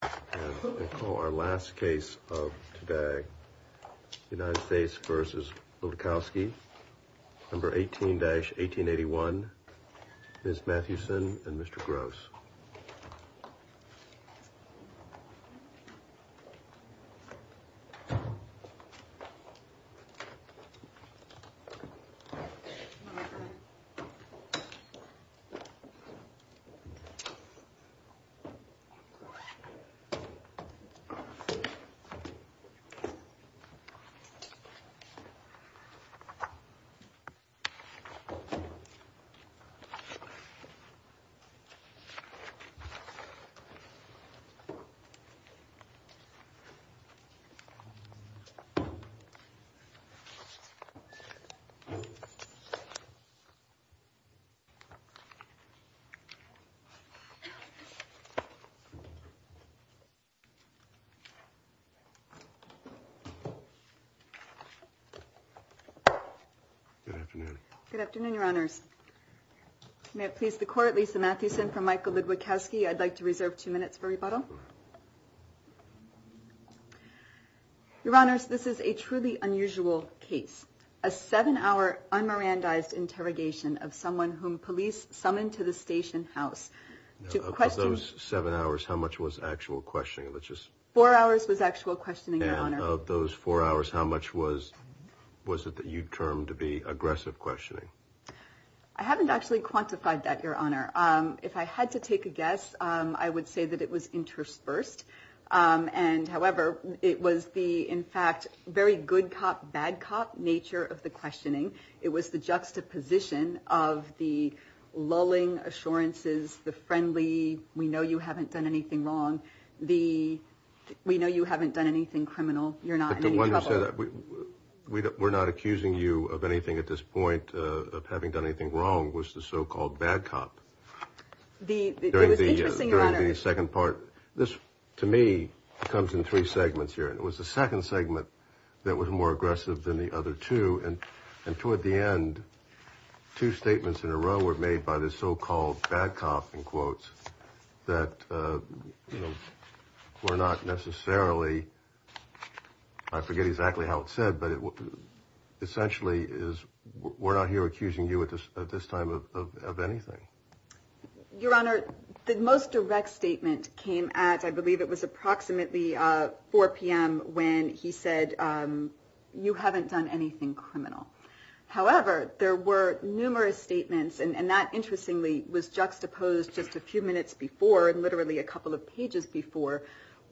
I call our last case of today United States v. Ludwikowski, number 18-1881, Ms. Mathewson and Mr. Gross. I call our last case of today United States v. Ludwikowski, number 18-1881, Ms. Mathewson Good afternoon. Good afternoon, Your Honors. May it please the Court, Lisa Mathewson for Michael Ludwikowski. I'd like to reserve two minutes for rebuttal. Your Honors, this is a truly unusual case. A seven-hour un-Mirandized interrogation of someone whom police summoned to the station house to question Of those seven hours, how much was actual questioning? Four hours was actual questioning, Your Honor. And of those four hours, how much was it that you termed to be aggressive questioning? I haven't actually quantified that, Your Honor. If I had to take a guess, I would say that it was interspersed. And however, it was the, in fact, very good cop, bad cop nature of the questioning. It was the juxtaposition of the lulling assurances, the friendly, we know you haven't done anything wrong. The, we know you haven't done anything criminal. You're not in any trouble. The one who said, we're not accusing you of anything at this point, of having done anything wrong, was the so-called bad cop. It was interesting, Your Honor. This, to me, comes in three segments here. It was the second segment that was more aggressive than the other two. And toward the end, two statements in a row were made by the so-called bad cop, in quotes, that were not necessarily, I forget exactly how it's said, but it essentially is, we're not here accusing you at this time of anything. Your Honor, the most direct statement came at, I believe it was approximately 4 p.m. when he said, you haven't done anything criminal. However, there were numerous statements, and that, interestingly, was juxtaposed just a few minutes before, and literally a couple of pages before,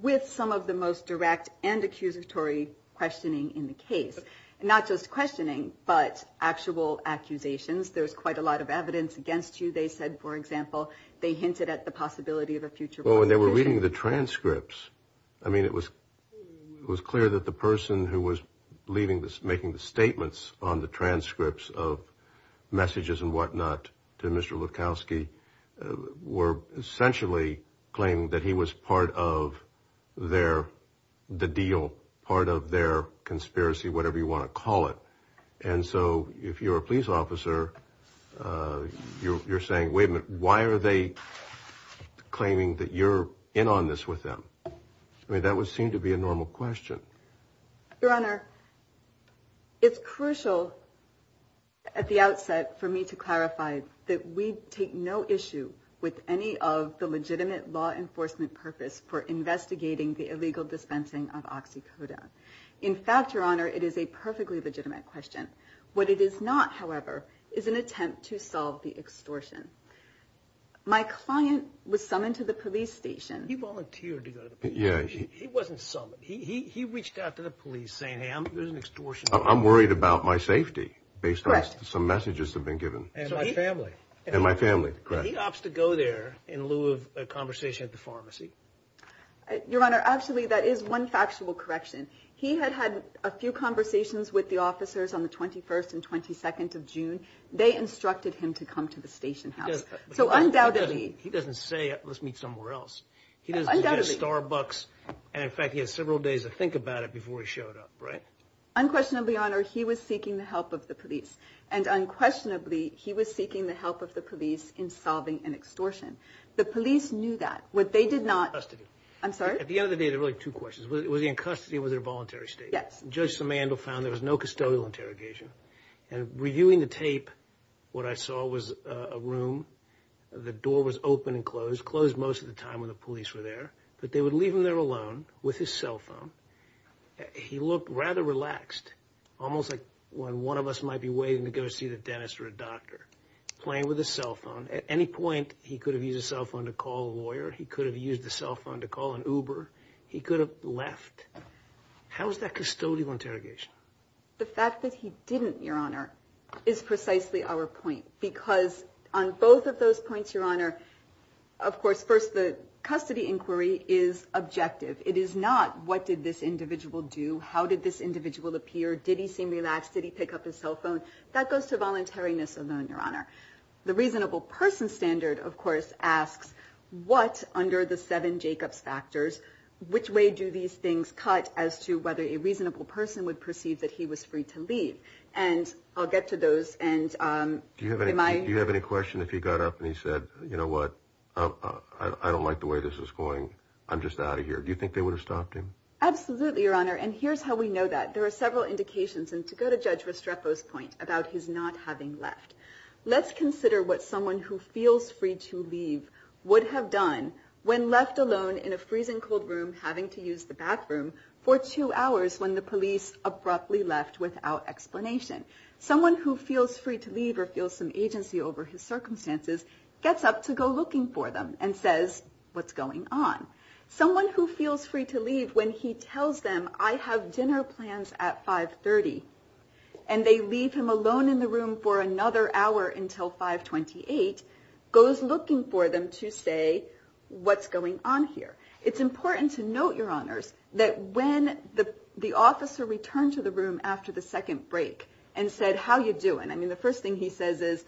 with some of the most direct and accusatory questioning in the case. Not just questioning, but actual accusations. There's quite a lot of evidence against you, they said, for example. They hinted at the possibility of a future prosecution. Well, when they were reading the transcripts, I mean, it was clear that the person who was making the statements on the transcripts of messages and whatnot were essentially claiming that he was part of the deal, part of their conspiracy, whatever you want to call it. And so, if you're a police officer, you're saying, wait a minute, why are they claiming that you're in on this with them? I mean, that would seem to be a normal question. Your Honor, it's crucial at the outset for me to clarify that we take no issue with any of the legitimate law enforcement purpose for investigating the illegal dispensing of oxycodone. In fact, Your Honor, it is a perfectly legitimate question. What it is not, however, is an attempt to solve the extortion. My client was summoned to the police station. He volunteered to go to the police station. He wasn't summoned. He reached out to the police saying, hey, I'm going to do an extortion. I'm worried about my safety based on some messages that have been given. And my family. And my family, correct. He opts to go there in lieu of a conversation at the pharmacy. Your Honor, actually, that is one factual correction. He had had a few conversations with the officers on the 21st and 22nd of June. They instructed him to come to the station house. So, undoubtedly. He doesn't say, let's meet somewhere else. He doesn't suggest Starbucks. And, in fact, he had several days to think about it before he showed up, right? Unquestionably, Your Honor, he was seeking the help of the police. And unquestionably, he was seeking the help of the police in solving an extortion. The police knew that. What they did not. In custody. I'm sorry? At the end of the day, there are really two questions. Was he in custody or was it a voluntary statement? Yes. Judge Simandl found there was no custodial interrogation. And reviewing the tape, what I saw was a room. The door was open and closed. It was closed most of the time when the police were there. But they would leave him there alone with his cell phone. He looked rather relaxed. Almost like when one of us might be waiting to go see the dentist or a doctor. Playing with his cell phone. At any point, he could have used his cell phone to call a lawyer. He could have used his cell phone to call an Uber. He could have left. How was that custodial interrogation? The fact that he didn't, Your Honor, is precisely our point. Because on both of those points, Your Honor, of course, first the custody inquiry is objective. It is not what did this individual do? How did this individual appear? Did he seem relaxed? Did he pick up his cell phone? That goes to voluntariness alone, Your Honor. The reasonable person standard, of course, asks what, under the seven Jacobs factors, which way do these things cut as to whether a reasonable person would perceive that he was free to leave? And I'll get to those. Do you have any question if he got up and he said, you know what, I don't like the way this is going. I'm just out of here. Do you think they would have stopped him? Absolutely, Your Honor. And here's how we know that. There are several indications. And to go to Judge Restrepo's point about his not having left, let's consider what someone who feels free to leave would have done when left alone in a freezing cold room having to use the bathroom for two hours when the police abruptly left without explanation. Someone who feels free to leave or feels some agency over his circumstances gets up to go looking for them and says, what's going on? Someone who feels free to leave when he tells them, I have dinner plans at 530, and they leave him alone in the room for another hour until 528, goes looking for them to say, what's going on here? It's important to note, Your Honors, that when the officer returned to the room after the second break and said, how are you doing? I mean, the first thing he says is,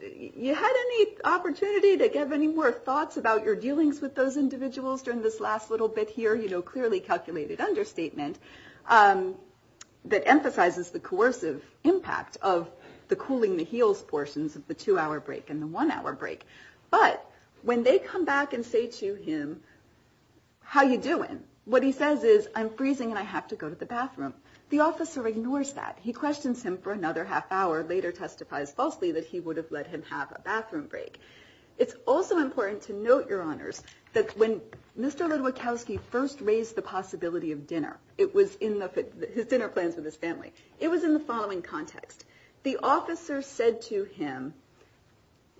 you had any opportunity to give any more thoughts about your dealings with those individuals during this last little bit here, you know, clearly calculated understatement that emphasizes the coercive impact of the cooling the heels portions of the two-hour break and the one-hour break. But when they come back and say to him, how are you doing? What he says is, I'm freezing and I have to go to the bathroom. The officer ignores that. He questions him for another half hour, later testifies falsely that he would have let him have a bathroom break. It's also important to note, Your Honors, that when Mr. Ludwikowski first raised the possibility of dinner, it was in his dinner plans with his family, it was in the following context. The officer said to him,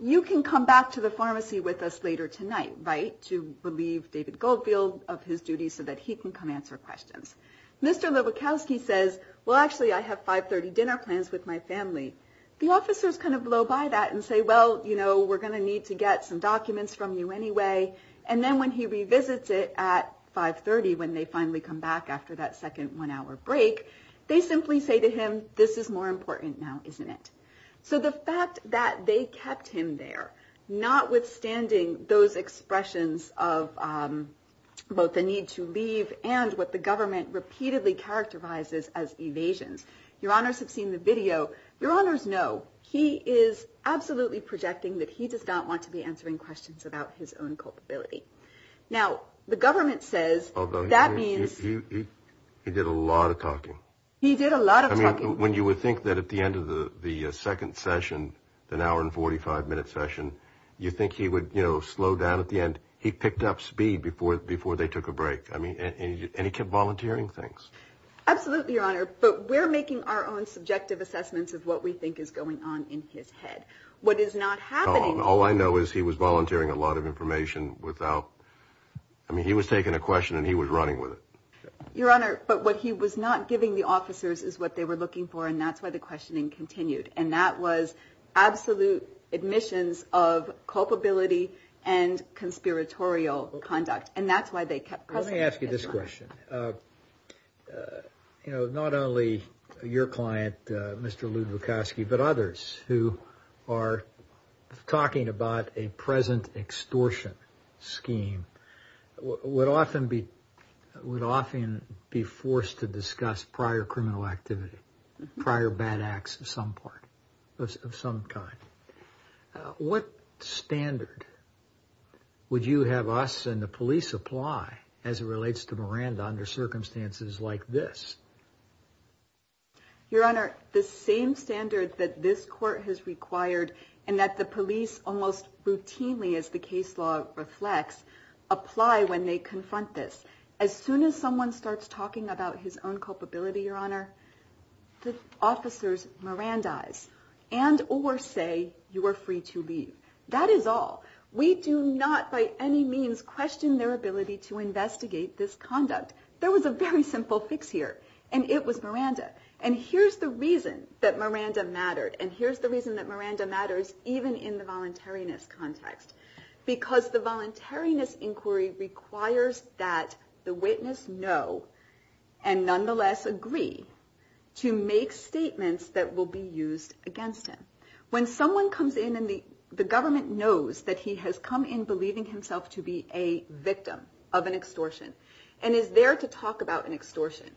you can come back to the pharmacy with us later tonight, right, to relieve David Goldfield of his duties so that he can come answer questions. Mr. Ludwikowski says, well, actually, I have 5.30 dinner plans with my family. The officers kind of blow by that and say, well, you know, we're going to need to get some documents from you anyway. And then when he revisits it at 5.30, when they finally come back after that second one-hour break, they simply say to him, this is more important now, isn't it? So the fact that they kept him there, notwithstanding those expressions of both the need to leave and what the government repeatedly characterizes as evasions. Your Honors have seen the video. Your Honors know he is absolutely projecting that he does not want to be answering questions about his own culpability. Now, the government says that means... He did a lot of talking. He did a lot of talking. When you would think that at the end of the second session, an hour and 45-minute session, you think he would slow down at the end. He picked up speed before they took a break. And he kept volunteering things. Absolutely, Your Honor. But we're making our own subjective assessments of what we think is going on in his head. What is not happening... All I know is he was volunteering a lot of information without... I mean, he was taking a question and he was running with it. Your Honor, but what he was not giving the officers is what they were looking for, and that's why the questioning continued. And that was absolute admissions of culpability and conspiratorial conduct. And that's why they kept... Let me ask you this question. Not only your client, Mr. Lew Bukoski, but others who are talking about a present extortion scheme would often be forced to discuss prior criminal activity, prior bad acts of some kind. What standard would you have us and the police apply as it relates to Miranda under circumstances like this? Your Honor, the same standard that this court has required and that the police almost routinely, as the case law reflects, apply when they confront this. As soon as someone starts talking about his own culpability, Your Honor, the officers Miranda-ize and or say, you are free to leave. That is all. We do not by any means question their ability to investigate this conduct. There was a very simple fix here, and it was Miranda. And here's the reason that Miranda mattered, and here's the reason that she mattered in the voluntariness context, because the voluntariness inquiry requires that the witness know and nonetheless agree to make statements that will be used against him. When someone comes in and the government knows that he has come in believing himself to be a victim of an extortion and is there to talk about an extortion.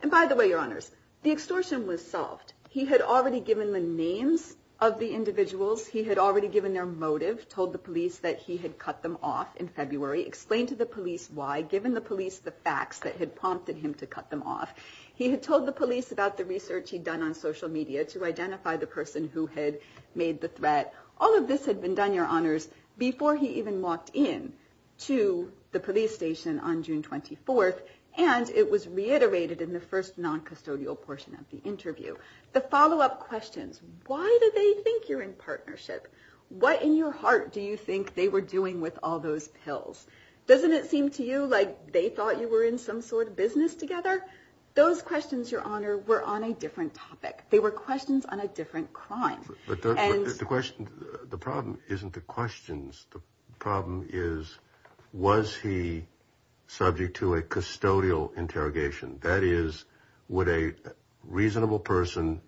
And by the way, Your Honors, the extortion was solved. He had already given the names of the individuals. He had already given their motive, told the police that he had cut them off in February, explained to the police why, given the police the facts that had prompted him to cut them off. He had told the police about the research he'd done on social media to identify the person who had made the threat. All of this had been done, Your Honors, before he even walked in to the police station on June 24th, and it was reiterated in the first non-custodial portion of the interview. The follow-up questions, why do they think you're in partnership? What in your heart do you think they were doing with all those pills? Doesn't it seem to you like they thought you were in some sort of business together? Those questions, Your Honor, were on a different topic. They were questions on a different crime. The problem isn't the questions. The problem is was he subject to a custodial interrogation? That is, would a reasonable person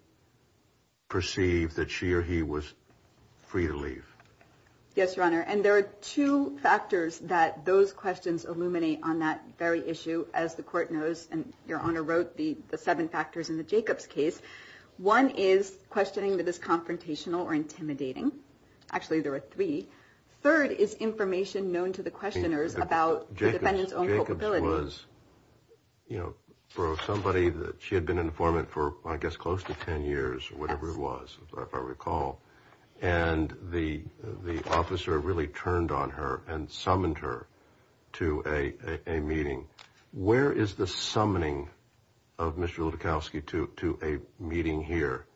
perceive that she or he was free to leave? Yes, Your Honor, and there are two factors that those questions illuminate on that very issue, as the Court knows, and Your Honor wrote, the seven factors in the Jacobs case. One is questioning that is confrontational or intimidating. Actually, there are three. Third is information known to the questioners about the defendant's own culpability. The question was for somebody that she had been an informant for, I guess, close to ten years or whatever it was, if I recall, and the officer really turned on her and summoned her to a meeting. Where is the summoning of Mr. Lutikowsky to a meeting here,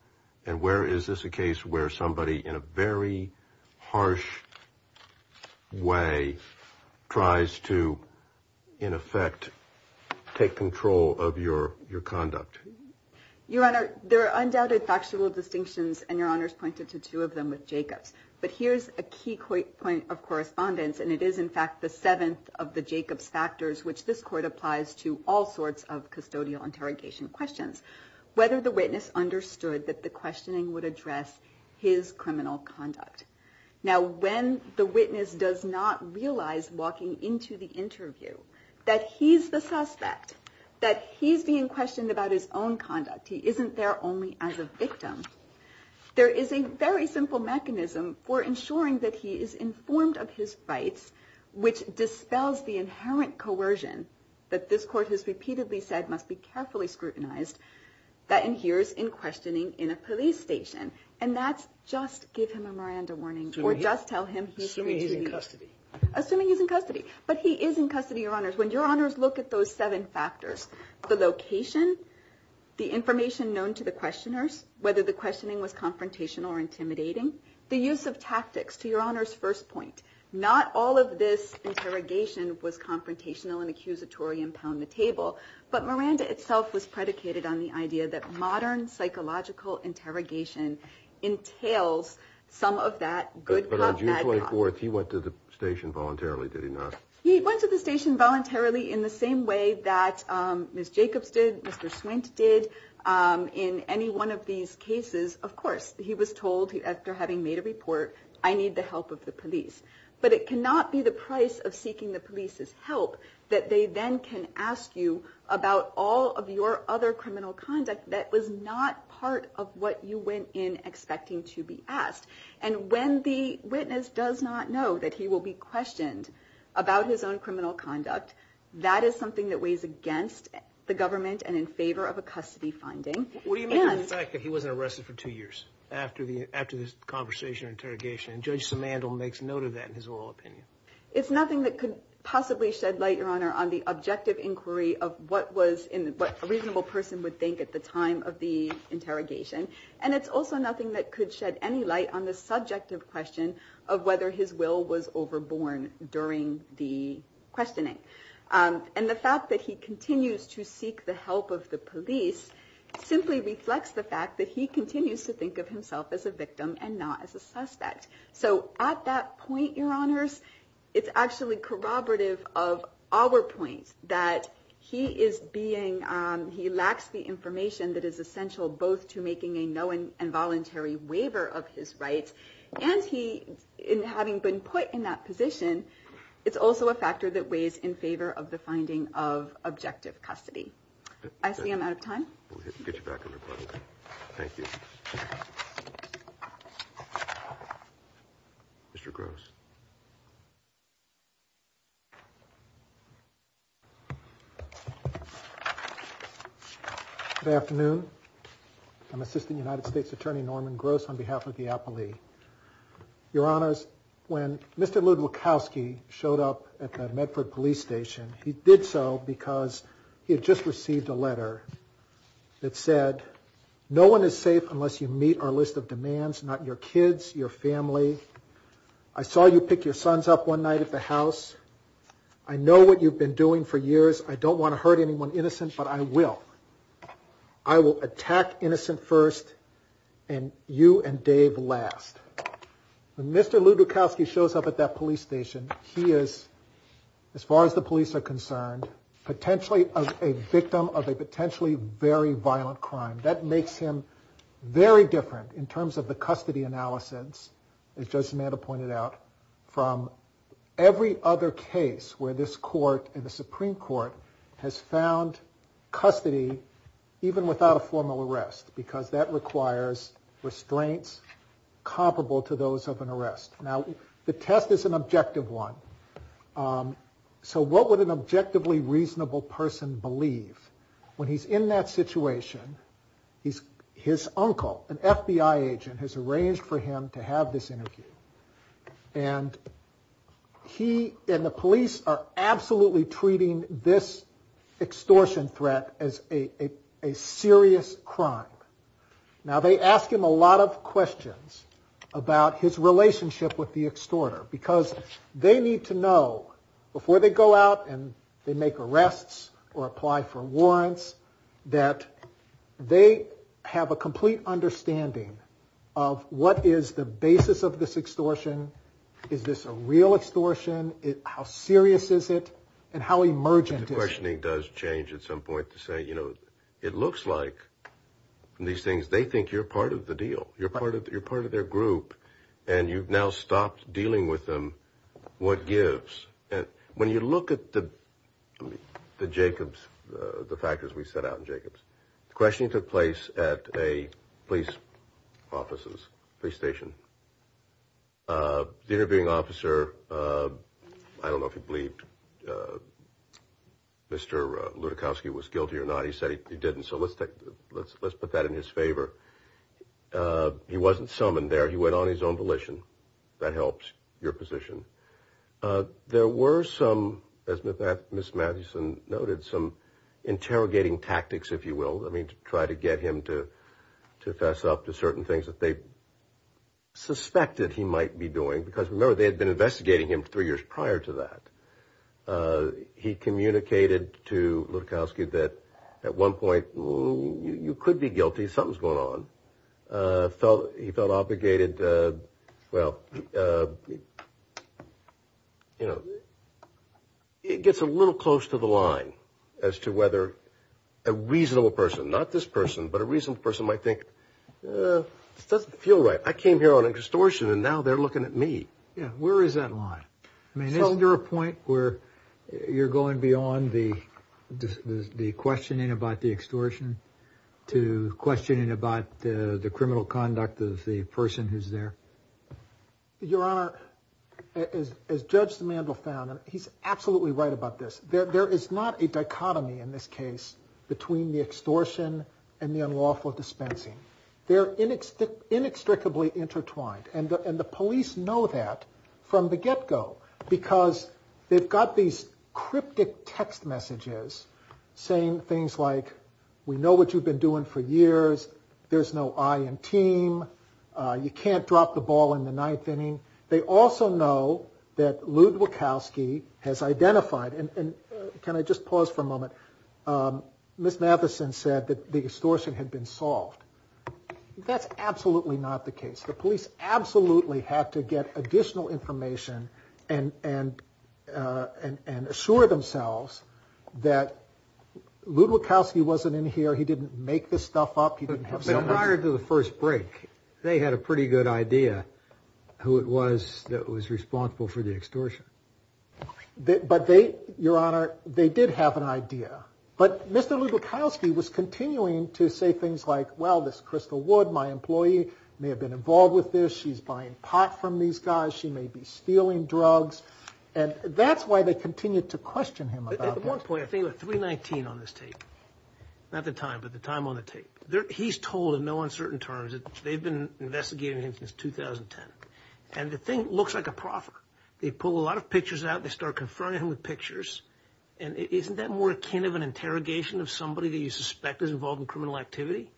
and where is this a case where somebody in a very harsh way tries to, in effect, take control of your conduct? Your Honor, there are undoubted factual distinctions, and Your Honor's pointed to two of them with Jacobs, but here's a key point of correspondence, and it is, in fact, the seventh of the Jacobs factors, which this Court applies to all sorts of custodial interrogation questions. Whether the witness understood that the questioning would address his criminal conduct. Now, when the witness does not realize, walking into the interview, that he's the suspect, that he's being questioned about his own conduct, he isn't there only as a victim, there is a very simple mechanism for ensuring that he is informed of his rights, which dispels the inherent coercion that this Court has repeatedly said must be carefully scrutinized, that inheres in questioning in a police station. And that's just give him a Miranda warning, or just tell him he's free to leave. Assuming he's in custody. Assuming he's in custody. But he is in custody, Your Honors. When Your Honors look at those seven factors, the location, the information known to the questioners, whether the questioning was confrontational or intimidating, the use of tactics, to Your Honor's first point, not all of this interrogation was confrontational and accusatory and pound the table, but Miranda itself was predicated on the idea that modern psychological interrogation entails some of that good cop, bad cop. But on June 24th, he went to the station voluntarily, did he not? He went to the station voluntarily in the same way that Ms. Jacobs did, Mr. Swint did, in any one of these cases, of course. He was told, after having made a report, I need the help of the police. But it cannot be the price of seeking the police's help that they then can ask you about all of your other criminal conduct that was not part of what you went in expecting to be asked. And when the witness does not know that he will be questioned about his own criminal conduct, that is something that weighs against the government and in favor of a custody finding. What do you make of the fact that he wasn't arrested for two years after this conversation or interrogation? And Judge Simandl makes note of that in his oral opinion. It's nothing that could possibly shed light, Your Honor, on the objective inquiry of what a reasonable person would think at the time of the interrogation. And it's also nothing that could shed any light on the subjective question of whether his will was overborne during the questioning. And the fact that he continues to seek the help of the police simply reflects the fact that he continues to think of himself as a victim and not as a suspect. So at that point, Your Honors, it's actually corroborative of our point that he lacks the information that is essential both to making a no involuntary waiver of his rights and having been put in that position, it's also a factor that weighs in favor of the finding of objective custody. I see I'm out of time. We'll get you back on your part. Thank you. Mr. Gross. Good afternoon. I'm Assistant United States Attorney Norman Gross on behalf of the appellee. Your Honors, when Mr. Lewd-Wilkowski showed up at the Medford police station, he did so because he had just received a letter that said, no one is safe unless you meet our list of demands, not your kids, your family. I saw you pick your sons up one night at the house. I know what you've been doing for years. I don't want to hurt anyone innocent, but I will. I will attack innocent first and you and Dave last. When Mr. Lewd-Wilkowski shows up at that police station, he is, as far as the police are concerned, potentially a victim of a potentially very violent crime. That makes him very different in terms of the custody analysis, as Judge Zamanda pointed out, from every other case where this court and the Supreme Court has found custody even without a formal arrest because that requires restraints comparable to those of an arrest. Now, the test is an objective one. So what would an objectively reasonable person believe when he's in that situation? His uncle, an FBI agent, has arranged for him to have this interview. And he and the police are absolutely treating this extortion threat as a serious crime. Now, they ask him a lot of questions about his relationship with the extorter because they need to know before they go out and they make arrests or apply for warrants that they have a complete understanding of what is the basis of this extortion. Is this a real extortion? How serious is it? And how emergent is it? The questioning does change at some point to say, you know, it looks like these things, they think you're part of the deal. You're part of their group. And you've now stopped dealing with them. What gives? When you look at the Jacobs, the factors we set out in Jacobs, the questioning took place at a police station. The interviewing officer, I don't know if he believed Mr. Lutikowsky was guilty or not. He said he didn't. So let's put that in his favor. He wasn't summoned there. He went on his own volition. That helps your position. There were some, as Ms. Mathewson noted, some interrogating tactics, if you will, I mean, to try to get him to fess up to certain things that they suspected he might be doing because, remember, they had been investigating him three years prior to that. He communicated to Lutikowsky that at one point, you could be guilty. Something's going on. He felt obligated. Well, you know, it gets a little close to the line as to whether a reasonable person, not this person, but a reasonable person might think, this doesn't feel right. I came here on extortion, and now they're looking at me. Yeah, where is that line? I mean, isn't there a point where you're going beyond the questioning about the extortion to questioning about the criminal conduct of the person who's there? Your Honor, as Judge Demandle found, and he's absolutely right about this, there is not a dichotomy in this case between the extortion and the unlawful dispensing. They're inextricably intertwined, and the police know that from the get-go because they've got these cryptic text messages saying things like, we know what you've been doing for years. There's no I in team. You can't drop the ball in the ninth inning. They also know that Lutikowsky has identified, and can I just pause for a moment? Ms. Matheson said that the extortion had been solved. That's absolutely not the case. The police absolutely had to get additional information and assure themselves that Lutikowsky wasn't in here. He didn't make this stuff up. But prior to the first break, they had a pretty good idea who it was that was responsible for the extortion. But they, Your Honor, they did have an idea. But Mr. Lutikowsky was continuing to say things like, well, this Crystal Wood, my employee, may have been involved with this. She's buying pot from these guys. She may be stealing drugs. And that's why they continued to question him about that. At one point, I think it was 319 on this tape. Not the time, but the time on the tape. He's told in no uncertain terms that they've been investigating him since 2010. And the thing looks like a proffer. They pull a lot of pictures out. They start confronting him with pictures. And isn't that more akin of an interrogation of somebody that you suspect is involved in criminal activity?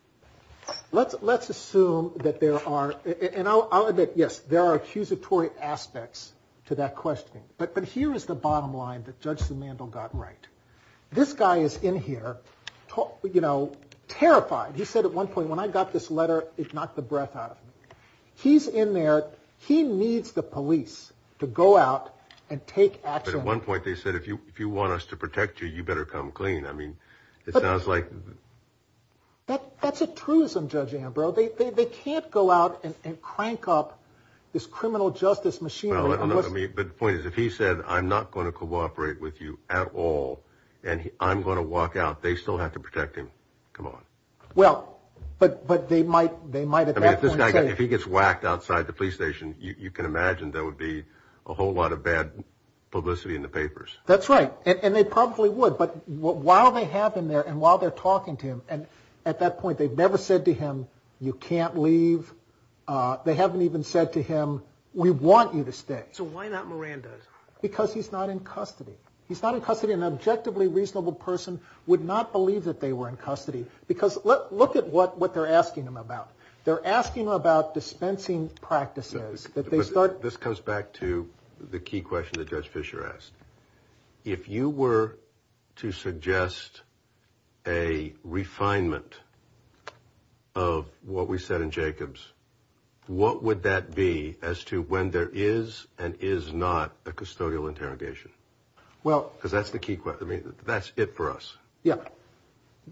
Let's assume that there are, and I'll admit, yes, there are accusatory aspects to that questioning. But here is the bottom line that Judge Simandl got right. This guy is in here, you know, terrified. He said at one point, when I got this letter, it knocked the breath out of me. He's in there. He needs the police to go out and take action. But at one point, they said, if you want us to protect you, you better come clean. I mean, it sounds like... That's a truism, Judge Ambrose. They can't go out and crank up this criminal justice machinery. But the point is, if he said, I'm not going to cooperate with you at all, and I'm going to walk out, they still have to protect him. Come on. Well, but they might at that point say... I mean, if he gets whacked outside the police station, you can imagine there would be a whole lot of bad publicity in the papers. That's right. And they probably would. But while they have him there and while they're talking to him, and at that point, they've never said to him, you can't leave. They haven't even said to him, we want you to stay. So why not Miranda? Because he's not in custody. He's not in custody. An objectively reasonable person would not believe that they were in custody. Because look at what they're asking him about. They're asking him about dispensing practices. This comes back to the key question that Judge Fisher asked. If you were to suggest a refinement of what we said in Jacobs, what would that be as to when there is and is not a custodial interrogation? Because that's the key question. I mean, that's it for us. Yeah.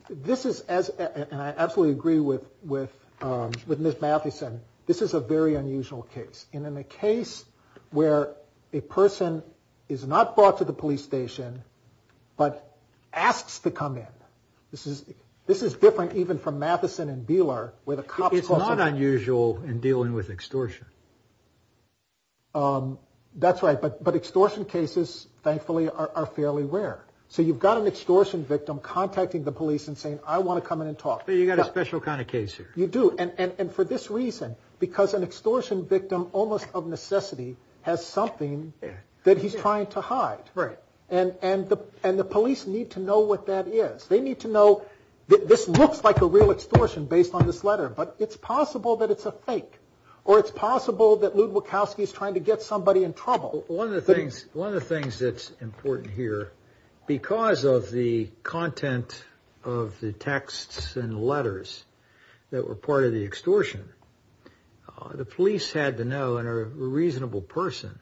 This is, and I absolutely agree with Ms. Mathieson, this is a very unusual case. And in a case where a person is not brought to the police station, but asks to come in. This is different even from Mathieson and Beeler. It's not unusual in dealing with extortion. That's right. But extortion cases, thankfully, are fairly rare. So you've got an extortion victim contacting the police and saying, I want to come in and talk. But you've got a special kind of case here. You do. And for this reason, because an extortion victim, almost of necessity, has something that he's trying to hide. Right. And the police need to know what that is. They need to know that this looks like a real extortion based on this letter. But it's possible that it's a fake. Or it's possible that Lew Bukowski is trying to get somebody in trouble. One of the things that's important here, because of the content of the texts and letters that were part of the extortion, the police had to know and a reasonable person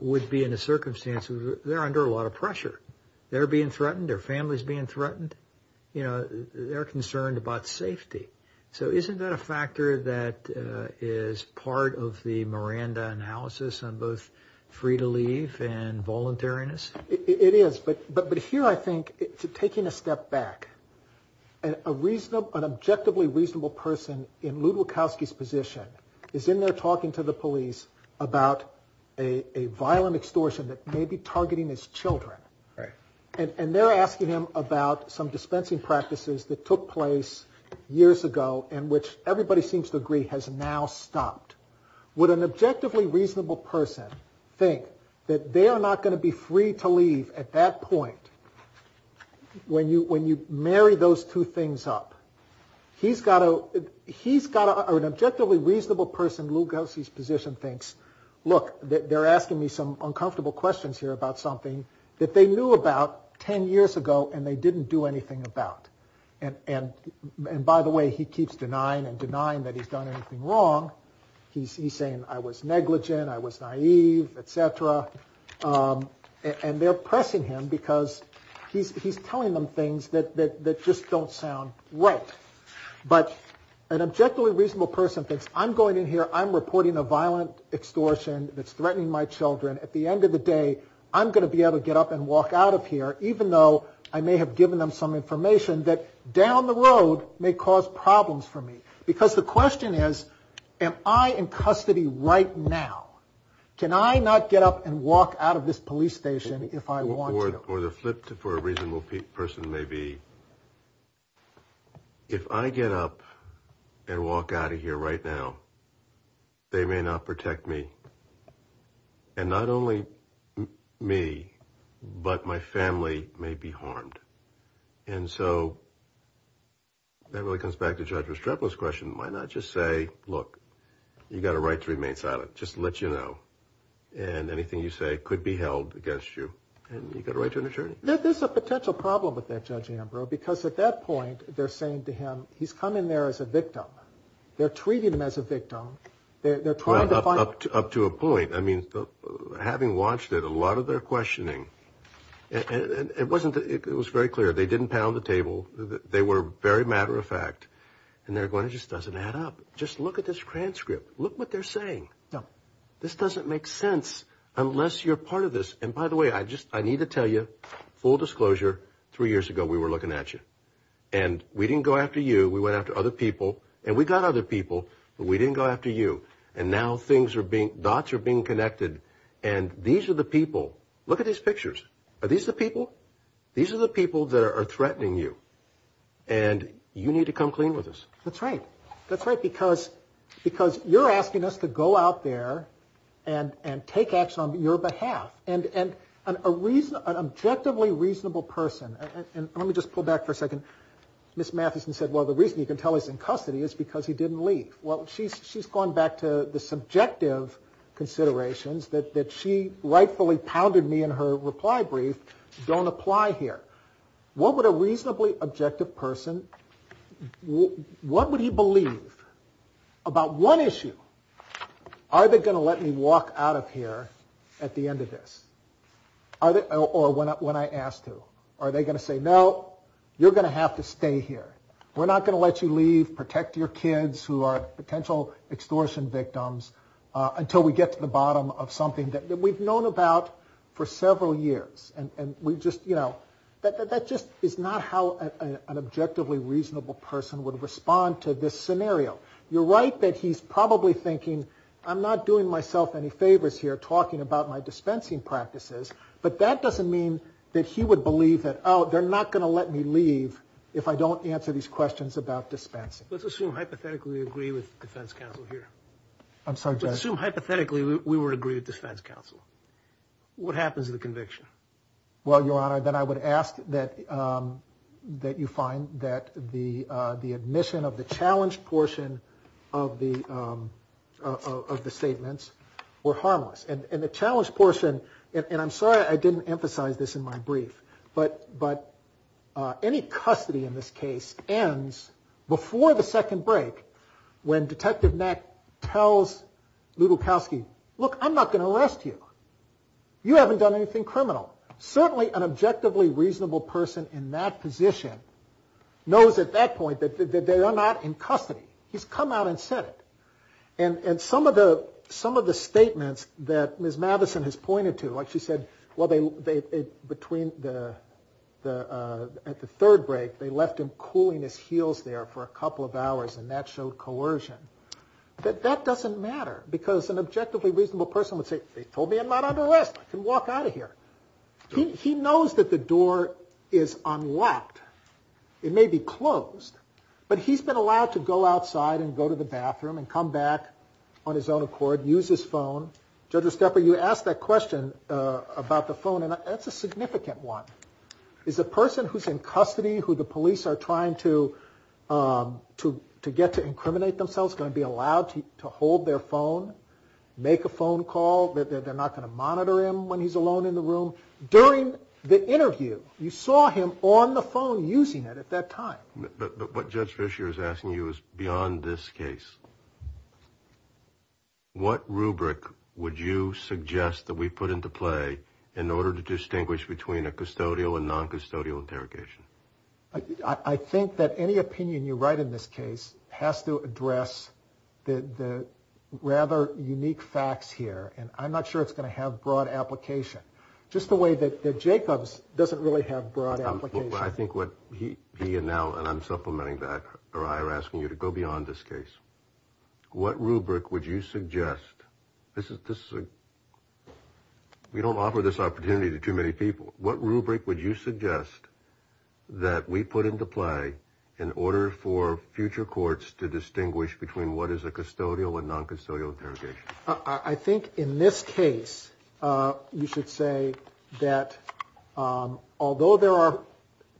would be in a circumstance where they're under a lot of pressure. They're being threatened. Their family's being threatened. You know, they're concerned about safety. So isn't that a factor that is part of the Miranda analysis on both free to leave and voluntariness? It is. But here I think, taking a step back, an objectively reasonable person in Lew Bukowski's position is in there talking to the police about a violent extortion that may be targeting his children. And they're asking him about some dispensing practices that took place years ago and which everybody seems to agree has now stopped. Would an objectively reasonable person think that they are not going to be free to leave at that point when you marry those two things up? He's got an objectively reasonable person in Lew Bukowski's position thinks, look, they're asking me some uncomfortable questions here about something that they knew about 10 years ago and they didn't do anything about. And by the way, he keeps denying and denying that he's done anything wrong. He's saying I was negligent, I was naive, et cetera. And they're pressing him because he's telling them things that just don't sound right. But an objectively reasonable person thinks I'm going in here, I'm reporting a violent extortion that's threatening my children. At the end of the day, I'm going to be able to get up and walk out of here even though I may have given them some information that down the road may cause problems for me. Because the question is, am I in custody right now? Can I not get up and walk out of this police station if I want to? Or the flip for a reasonable person may be, if I get up and walk out of here right now, they may not protect me. And not only me, but my family may be harmed. And so that really comes back to Judge Restrepo's question. Why not just say, look, you've got a right to remain silent. Just to let you know. And anything you say could be held against you. And you've got a right to an attorney. There's a potential problem with that, Judge Ambrose, because at that point they're saying to him, he's coming there as a victim. They're treating him as a victim. Up to a point. I mean, having watched it, a lot of their questioning, it was very clear they didn't pound the table. They were very matter of fact. And they're going, it just doesn't add up. Just look at this transcript. Look what they're saying. This doesn't make sense unless you're part of this. And by the way, I need to tell you, full disclosure, three years ago we were looking at you. And we didn't go after you. We went after other people. And we got other people. But we didn't go after you. And now dots are being connected. And these are the people. Look at these pictures. Are these the people? These are the people that are threatening you. And you need to come clean with us. That's right. That's right. Because you're asking us to go out there and take action on your behalf. And an objectively reasonable person, and let me just pull back for a second. Ms. Matheson said, well, the reason you can tell he's in custody is because he didn't leave. Well, she's gone back to the subjective considerations that she rightfully pounded me in her reply brief. Don't apply here. What would a reasonably objective person, what would he believe about one issue? Are they going to let me walk out of here at the end of this? Or when I ask to? Are they going to say, no, you're going to have to stay here. We're not going to let you leave, protect your kids who are potential extortion victims, until we get to the bottom of something that we've known about for several years. And we've just, you know, that just is not how an objectively reasonable person would respond to this scenario. You're right that he's probably thinking, I'm not doing myself any favors here talking about my dispensing practices. But that doesn't mean that he would believe that, oh, they're not going to let me leave if I don't answer these questions about dispensing. Let's assume hypothetically we agree with defense counsel here. I'm sorry, Judge. Let's assume hypothetically we would agree with defense counsel. What happens to the conviction? Well, Your Honor, then I would ask that you find that the admission of the challenge portion of the statements were harmless. And the challenge portion, and I'm sorry I didn't emphasize this in my brief, but any custody in this case ends before the second break when Detective Knack tells Lew Bukowski, look, I'm not going to arrest you. You haven't done anything criminal. Certainly an objectively reasonable person in that position knows at that point that they are not in custody. He's come out and said it. And some of the statements that Ms. Madison has pointed to, like she said, well, at the third break, they left him cooling his heels there for a couple of hours, and that showed coercion. That doesn't matter because an objectively reasonable person would say, they told me I'm not under arrest. I can walk out of here. He knows that the door is unlocked. It may be closed. But he's been allowed to go outside and go to the bathroom and come back on his own accord, use his phone. Judge Estepa, you asked that question about the phone, and that's a significant one. Is a person who's in custody who the police are trying to get to incriminate themselves going to be allowed to hold their phone, make a phone call, that they're not going to monitor him when he's alone in the room? During the interview, you saw him on the phone using it at that time. But what Judge Fischer is asking you is beyond this case, what rubric would you suggest that we put into play in order to distinguish between a custodial and noncustodial interrogation? I think that any opinion you write in this case has to address the rather unique facts here, and I'm not sure it's going to have broad application. Just the way that Jacob's doesn't really have broad application. I think what he and now, and I'm supplementing that, or I are asking you to go beyond this case. What rubric would you suggest? We don't offer this opportunity to too many people. What rubric would you suggest that we put into play in order for future courts to distinguish between what is a custodial and noncustodial interrogation? I think in this case, you should say that although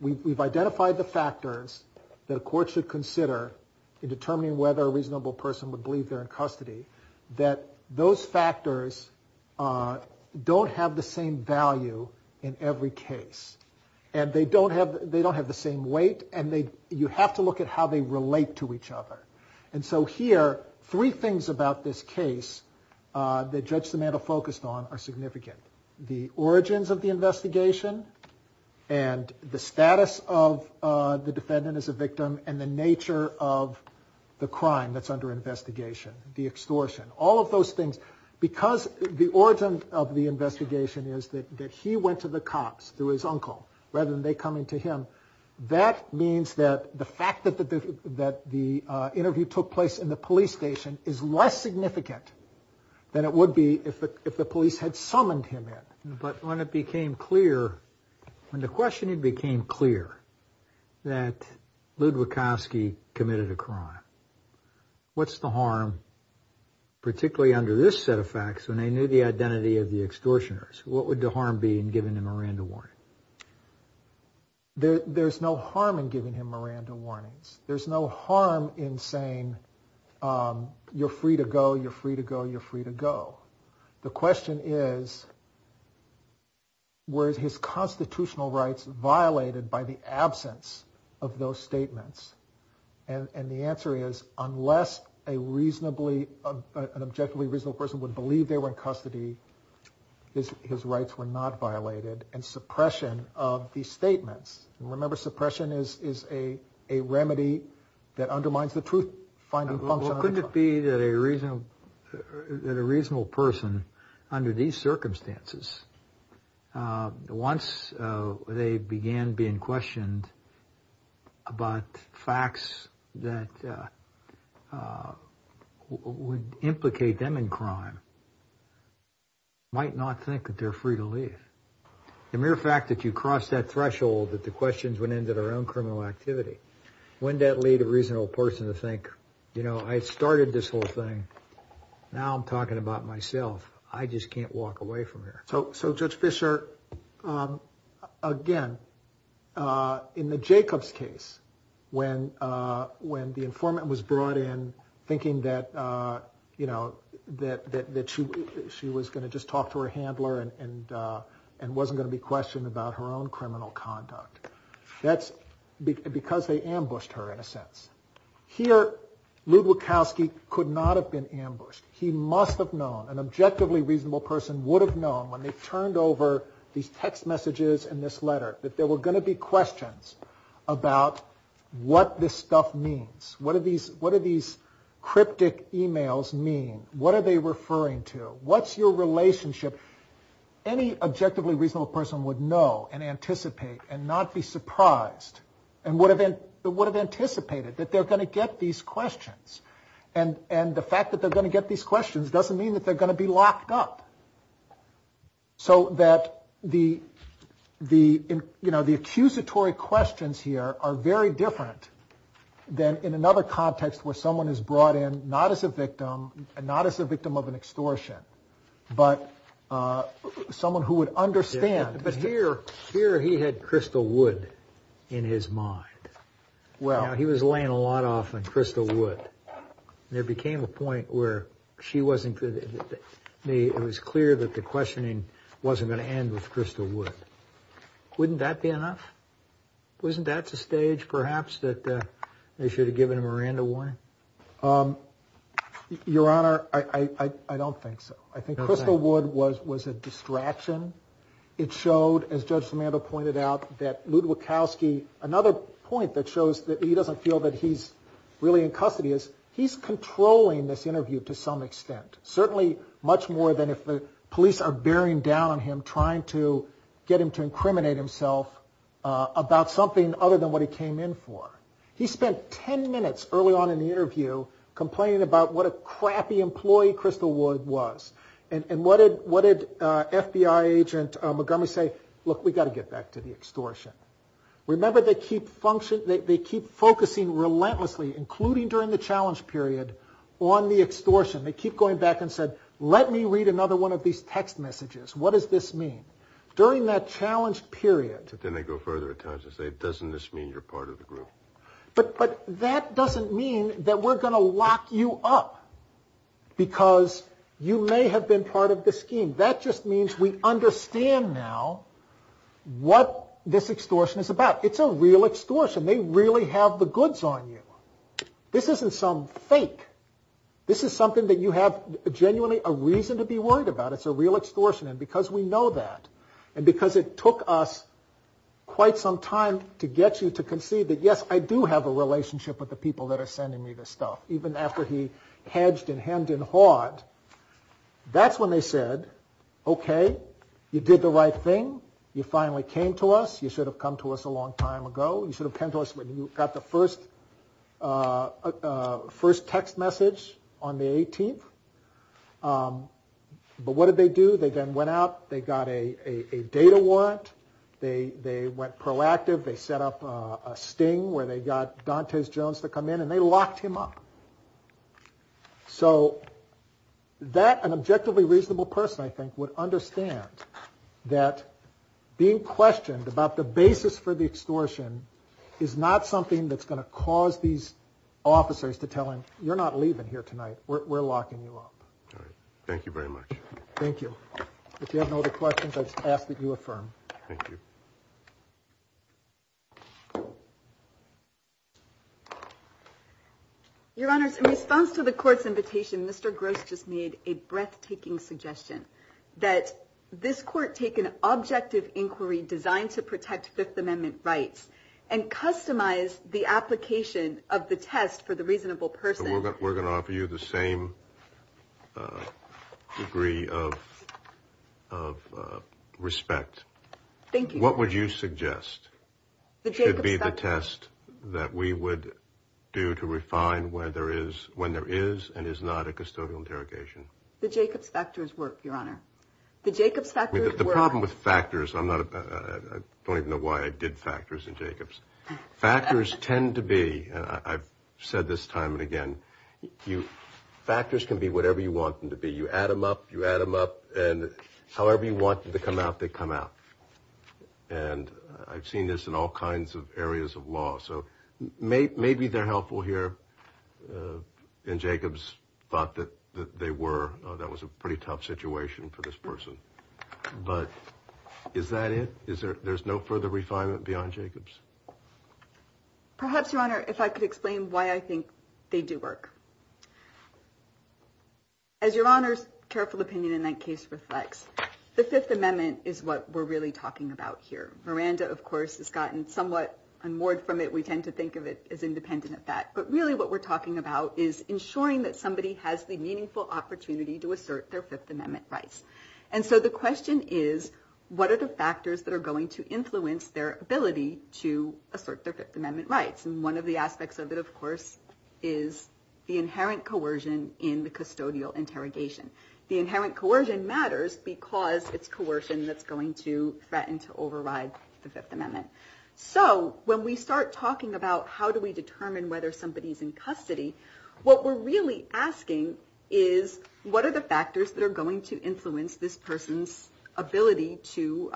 we've identified the factors that a court should consider in determining whether a reasonable person would believe they're in custody, that those factors don't have the same value in every case. And they don't have the same weight, and you have to look at how they relate to each other. And so here, three things about this case that Judge Simandoe focused on are significant. The origins of the investigation, and the status of the defendant as a victim, and the nature of the crime that's under investigation. The extortion. All of those things. Because the origin of the investigation is that he went to the cops through his uncle, rather than they coming to him. That means that the fact that the interview took place in the police station is less significant than it would be if the police had summoned him in. But when it became clear, when the questioning became clear, that Ludwikowski committed a crime, what's the harm, particularly under this set of facts, when they knew the identity of the extortioners? What would the harm be in giving him a rando warning? There's no harm in giving him rando warnings. There's no harm in saying, you're free to go, you're free to go, you're free to go. The question is, were his constitutional rights violated by the absence of those statements? And the answer is, unless an objectively reasonable person would believe they were in custody, his rights were not violated. And suppression of these statements. Remember, suppression is a remedy that undermines the truth-finding function. Couldn't it be that a reasonable person, under these circumstances, once they began being questioned about facts that would implicate them in crime, might not think that they're free to leave? The mere fact that you cross that threshold, that the questions went into their own criminal activity, wouldn't that lead a reasonable person to think, you know, I started this whole thing. Now I'm talking about myself. I just can't walk away from here. So, Judge Fischer, again, in the Jacobs case, when the informant was brought in, thinking that she was going to just talk to her handler, and wasn't going to be questioned about her own criminal conduct. That's because they ambushed her, in a sense. Here, Lew Bukowski could not have been ambushed. He must have known, an objectively reasonable person would have known, when they turned over these text messages and this letter, that there were going to be questions about what this stuff means. What do these cryptic emails mean? What are they referring to? What's your relationship? Any objectively reasonable person would know, and anticipate, and not be surprised. And would have anticipated that they're going to get these questions. And the fact that they're going to get these questions doesn't mean that they're going to be locked up. So that the accusatory questions here are very different than in another context, where someone is brought in, not as a victim, not as a victim of an extortion, but someone who would understand. But here he had Crystal Wood in his mind. He was laying a lot off on Crystal Wood. There became a point where it was clear that the questioning wasn't going to end with Crystal Wood. Wouldn't that be enough? Wasn't that the stage, perhaps, that they should have given a Miranda warning? Your Honor, I don't think so. I think Crystal Wood was a distraction. It showed, as Judge Simandoe pointed out, that Luke Wachowski, another point that shows that he doesn't feel that he's really in custody is, he's controlling this interview to some extent. Certainly much more than if the police are bearing down on him, trying to get him to incriminate himself about something other than what he came in for. He spent ten minutes early on in the interview complaining about what a crappy employee Crystal Wood was. And what did FBI agent Montgomery say? Look, we've got to get back to the extortion. Remember, they keep focusing relentlessly, including during the challenge period, on the extortion. They keep going back and said, let me read another one of these text messages. What does this mean? During that challenge period. But then they go further at times and say, doesn't this mean you're part of the group? But that doesn't mean that we're going to lock you up. Because you may have been part of the scheme. That just means we understand now what this extortion is about. It's a real extortion. They really have the goods on you. This isn't some fake. This is something that you have genuinely a reason to be worried about. It's a real extortion. And because we know that, and because it took us quite some time to get you to concede that, yes, I do have a relationship with the people that are sending me this stuff, even after he hedged and hemmed and hawed, that's when they said, okay, you did the right thing. You finally came to us. You should have come to us a long time ago. You should have come to us when you got the first text message on the 18th. But what did they do? They then went out. They got a data warrant. They went proactive. They set up a sting where they got Dantes Jones to come in, and they locked him up. So that, an objectively reasonable person, I think, would understand that being questioned about the basis for the extortion is not something that's going to cause these officers to tell him, you're not leaving here tonight. We're locking you up. All right. Thank you very much. Thank you. If you have no other questions, I just ask that you affirm. Thank you. Your Honors, in response to the Court's invitation, Mr. Gross just made a breathtaking suggestion, that this Court take an objective inquiry designed to protect Fifth Amendment rights and customize the application of the test for the reasonable person. We're going to offer you the same degree of respect. Thank you. What would you suggest should be the test that we would do to refine when there is and is not a custodial interrogation? The Jacobs factors work, Your Honor. The Jacobs factors work. The problem with factors, I don't even know why I did factors in Jacobs. Factors tend to be, I've said this time and again, factors can be whatever you want them to be. You add them up, you add them up, and however you want them to come out, they come out. And I've seen this in all kinds of areas of law. So maybe they're helpful here, and Jacobs thought that they were. That was a pretty tough situation for this person. But is that it? There's no further refinement beyond Jacobs? Perhaps, Your Honor, if I could explain why I think they do work. As Your Honor's careful opinion in that case reflects, the Fifth Amendment is what we're really talking about here. Miranda, of course, has gotten somewhat unmoored from it. We tend to think of it as independent of that. But really what we're talking about is ensuring that somebody has the meaningful opportunity to assert their Fifth Amendment rights. And so the question is, what are the factors that are going to influence their ability to assert their Fifth Amendment rights? And one of the aspects of it, of course, is the inherent coercion in the custodial interrogation. The inherent coercion matters because it's coercion that's going to threaten to override the Fifth Amendment. So when we start talking about how do we determine whether somebody's in custody, what we're really asking is, what are the factors that are going to influence this person's ability to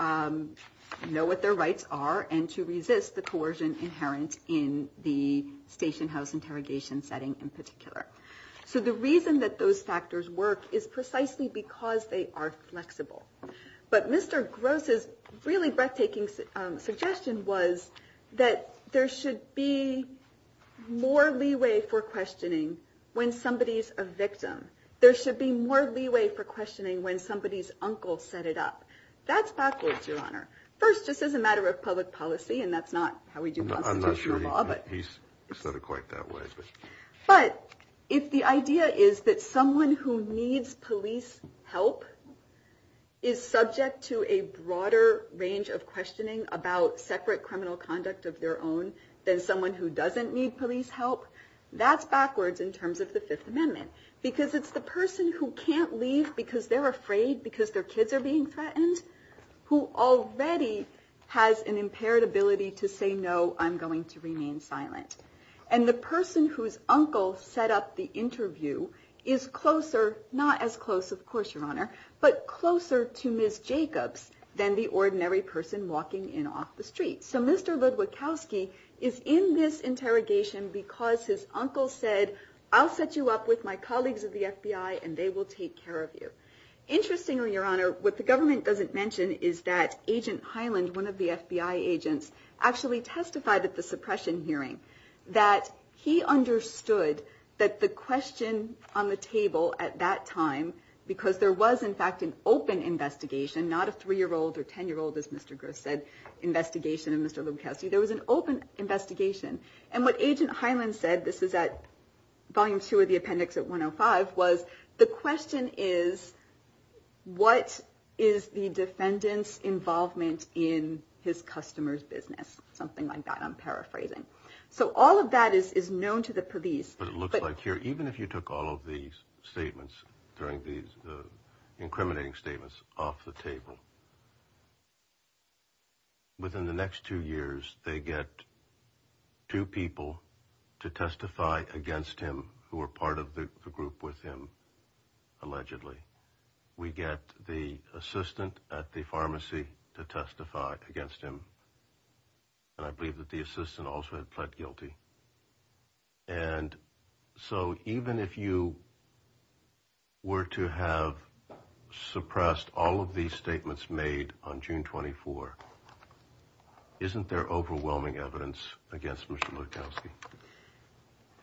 know what their rights are and to resist the coercion inherent in the stationhouse interrogation setting in particular? So the reason that those factors work is precisely because they are flexible. But Mr. Gross's really breathtaking suggestion was that there should be more leeway for questioning when somebody's a victim. There should be more leeway for questioning when somebody's uncle set it up. That's backwards, Your Honor. First, just as a matter of public policy, and that's not how we do constitutional law. I'm not sure he said it quite that way. But if the idea is that someone who needs police help is subject to a broader range of questioning about separate criminal conduct of their own than someone who doesn't need police help, that's backwards in terms of the Fifth Amendment. Because it's the person who can't leave because they're afraid because their kids are being threatened who already has an impaired ability to say, no, I'm going to remain silent. And the person whose uncle set up the interview is closer, not as close, of course, Your Honor, but closer to Ms. Jacobs than the ordinary person walking in off the street. So Mr. Ludwikowski is in this interrogation because his uncle said, I'll set you up with my colleagues at the FBI and they will take care of you. Interestingly, Your Honor, what the government doesn't mention is that Agent Hyland, one of the FBI agents, actually testified at the suppression hearing that he understood that the question on the table at that time, because there was, in fact, an open investigation, not a 3-year-old or 10-year-old, as Mr. Gross said, investigation of Mr. Ludwikowski. There was an open investigation. And what Agent Hyland said, this is at Volume 2 of the appendix at 105, was the question is what is the defendant's involvement in his customer's business, something like that, I'm paraphrasing. So all of that is known to the police. But it looks like here, even if you took all of these statements during these incriminating statements off the table, within the next two years, they get two people to testify against him who were part of the group with him, allegedly. We get the assistant at the pharmacy to testify against him. And I believe that the assistant also had pled guilty. And so even if you were to have suppressed all of these statements made on June 24, isn't there overwhelming evidence against Mr. Ludwikowski?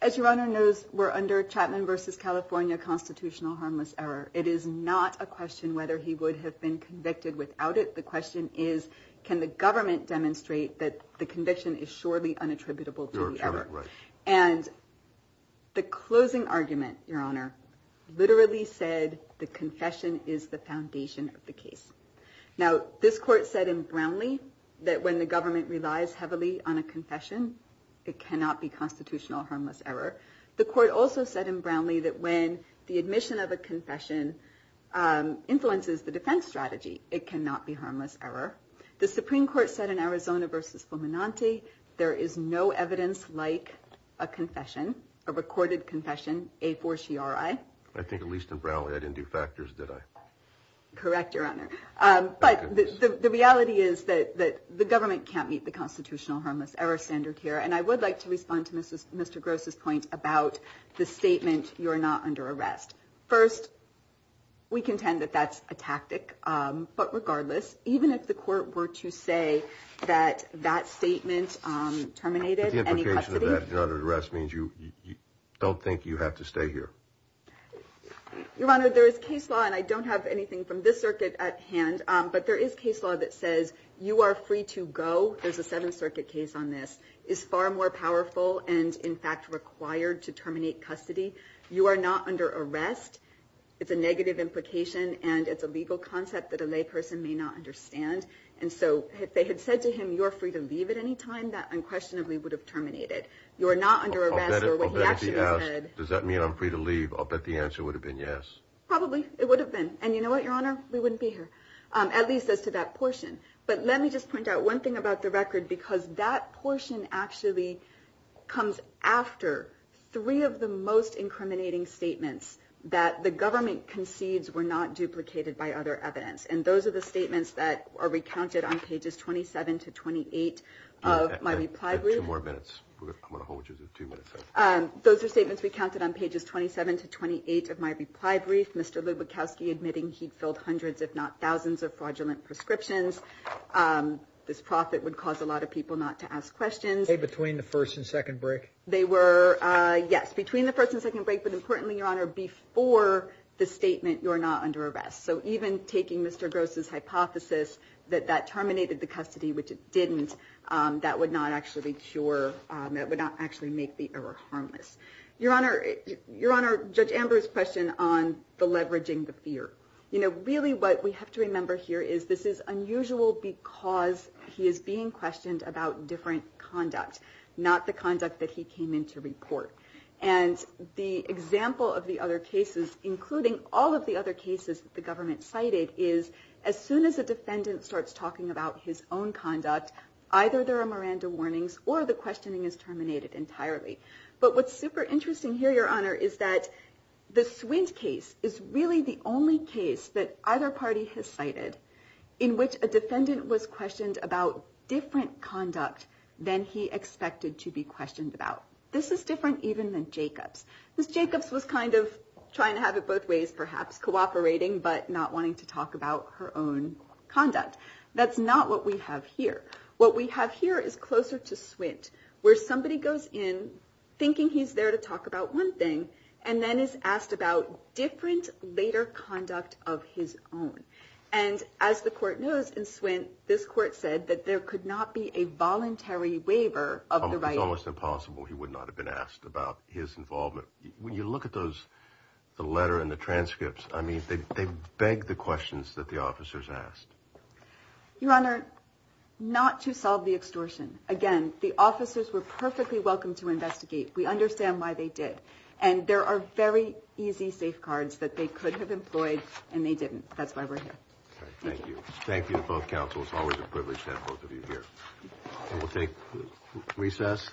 As your Honor knows, we're under Chapman versus California constitutional harmless error. It is not a question whether he would have been convicted without it. The question is, can the government demonstrate that the conviction is surely unattributable to the error? And the closing argument, your Honor, literally said the confession is the foundation of the case. Now, this court said in Brownlee that when the government relies heavily on a confession, it cannot be constitutional harmless error. The court also said in Brownlee that when the admission of a confession influences the defense strategy, it cannot be harmless error. The Supreme Court said in Arizona versus Fulminante, there is no evidence like a confession, a recorded confession, a four CRI. I think at least in Brownlee, I didn't do factors. Did I correct your Honor? But the reality is that the government can't meet the constitutional harmless error standard here. And I would like to respond to Mrs. Mr. Gross's point about the statement. You're not under arrest. First, we contend that that's a tactic. But regardless, even if the court were to say that that statement terminated any arrest means you don't think you have to stay here. Your Honor, there is case law and I don't have anything from this circuit at hand, but there is case law that says you are free to go. There's a seventh circuit case on this is far more powerful. And in fact, required to terminate custody. You are not under arrest. It's a negative implication. And it's a legal concept that a lay person may not understand. And so if they had said to him, you're free to leave at any time that unquestionably would have terminated. You're not under arrest. Does that mean I'm free to leave? I'll bet the answer would have been yes. Probably it would have been. And you know what, your Honor, we wouldn't be here at least as to that portion. But let me just point out one thing about the record, because that portion actually comes after three of the most incriminating statements that the government concedes were not duplicated by other evidence. And those are the statements that are recounted on pages 27 to 28 of my reply. Two more minutes. I'm going to hold you to two minutes. Those are statements we counted on pages 27 to 28 of my reply brief. Mr. Lubickowski admitting he'd filled hundreds, if not thousands of fraudulent prescriptions. This profit would cause a lot of people not to ask questions. Between the first and second break. They were. Yes. Between the first and second break. But importantly, your Honor, before the statement, you're not under arrest. So even taking Mr. Gross's hypothesis that that terminated the custody, which it didn't, that would not actually make the error harmless. Your Honor, Judge Amber's question on the leveraging the fear. You know, really what we have to remember here is this is unusual because he is being And the example of the other cases, including all of the other cases, the government cited is as soon as a defendant starts talking about his own conduct, either there are Miranda warnings or the questioning is terminated entirely. But what's super interesting here, your Honor, is that the swing's case is really the only case that either party has cited in which a defendant was questioned about different conduct than he expected to be questioned about. This is different even than Jacob's. This Jacob's was kind of trying to have it both ways, perhaps cooperating, but not wanting to talk about her own conduct. That's not what we have here. What we have here is closer to Swint where somebody goes in thinking he's there to talk about one thing and then is asked about different later conduct of his own. And as the court knows in Swint, this court said that there could not be a voluntary waiver of the right. It's almost impossible. He would not have been asked about his involvement. When you look at those, the letter and the transcripts, I mean, they beg the questions that the officers asked. Your Honor, not to solve the extortion. Again, the officers were perfectly welcome to investigate. We understand why they did. And there are very easy safeguards that they could have employed and they didn't. That's why we're here. Thank you. Thank you to both councils. Always a privilege to have both of you here. We'll take recess.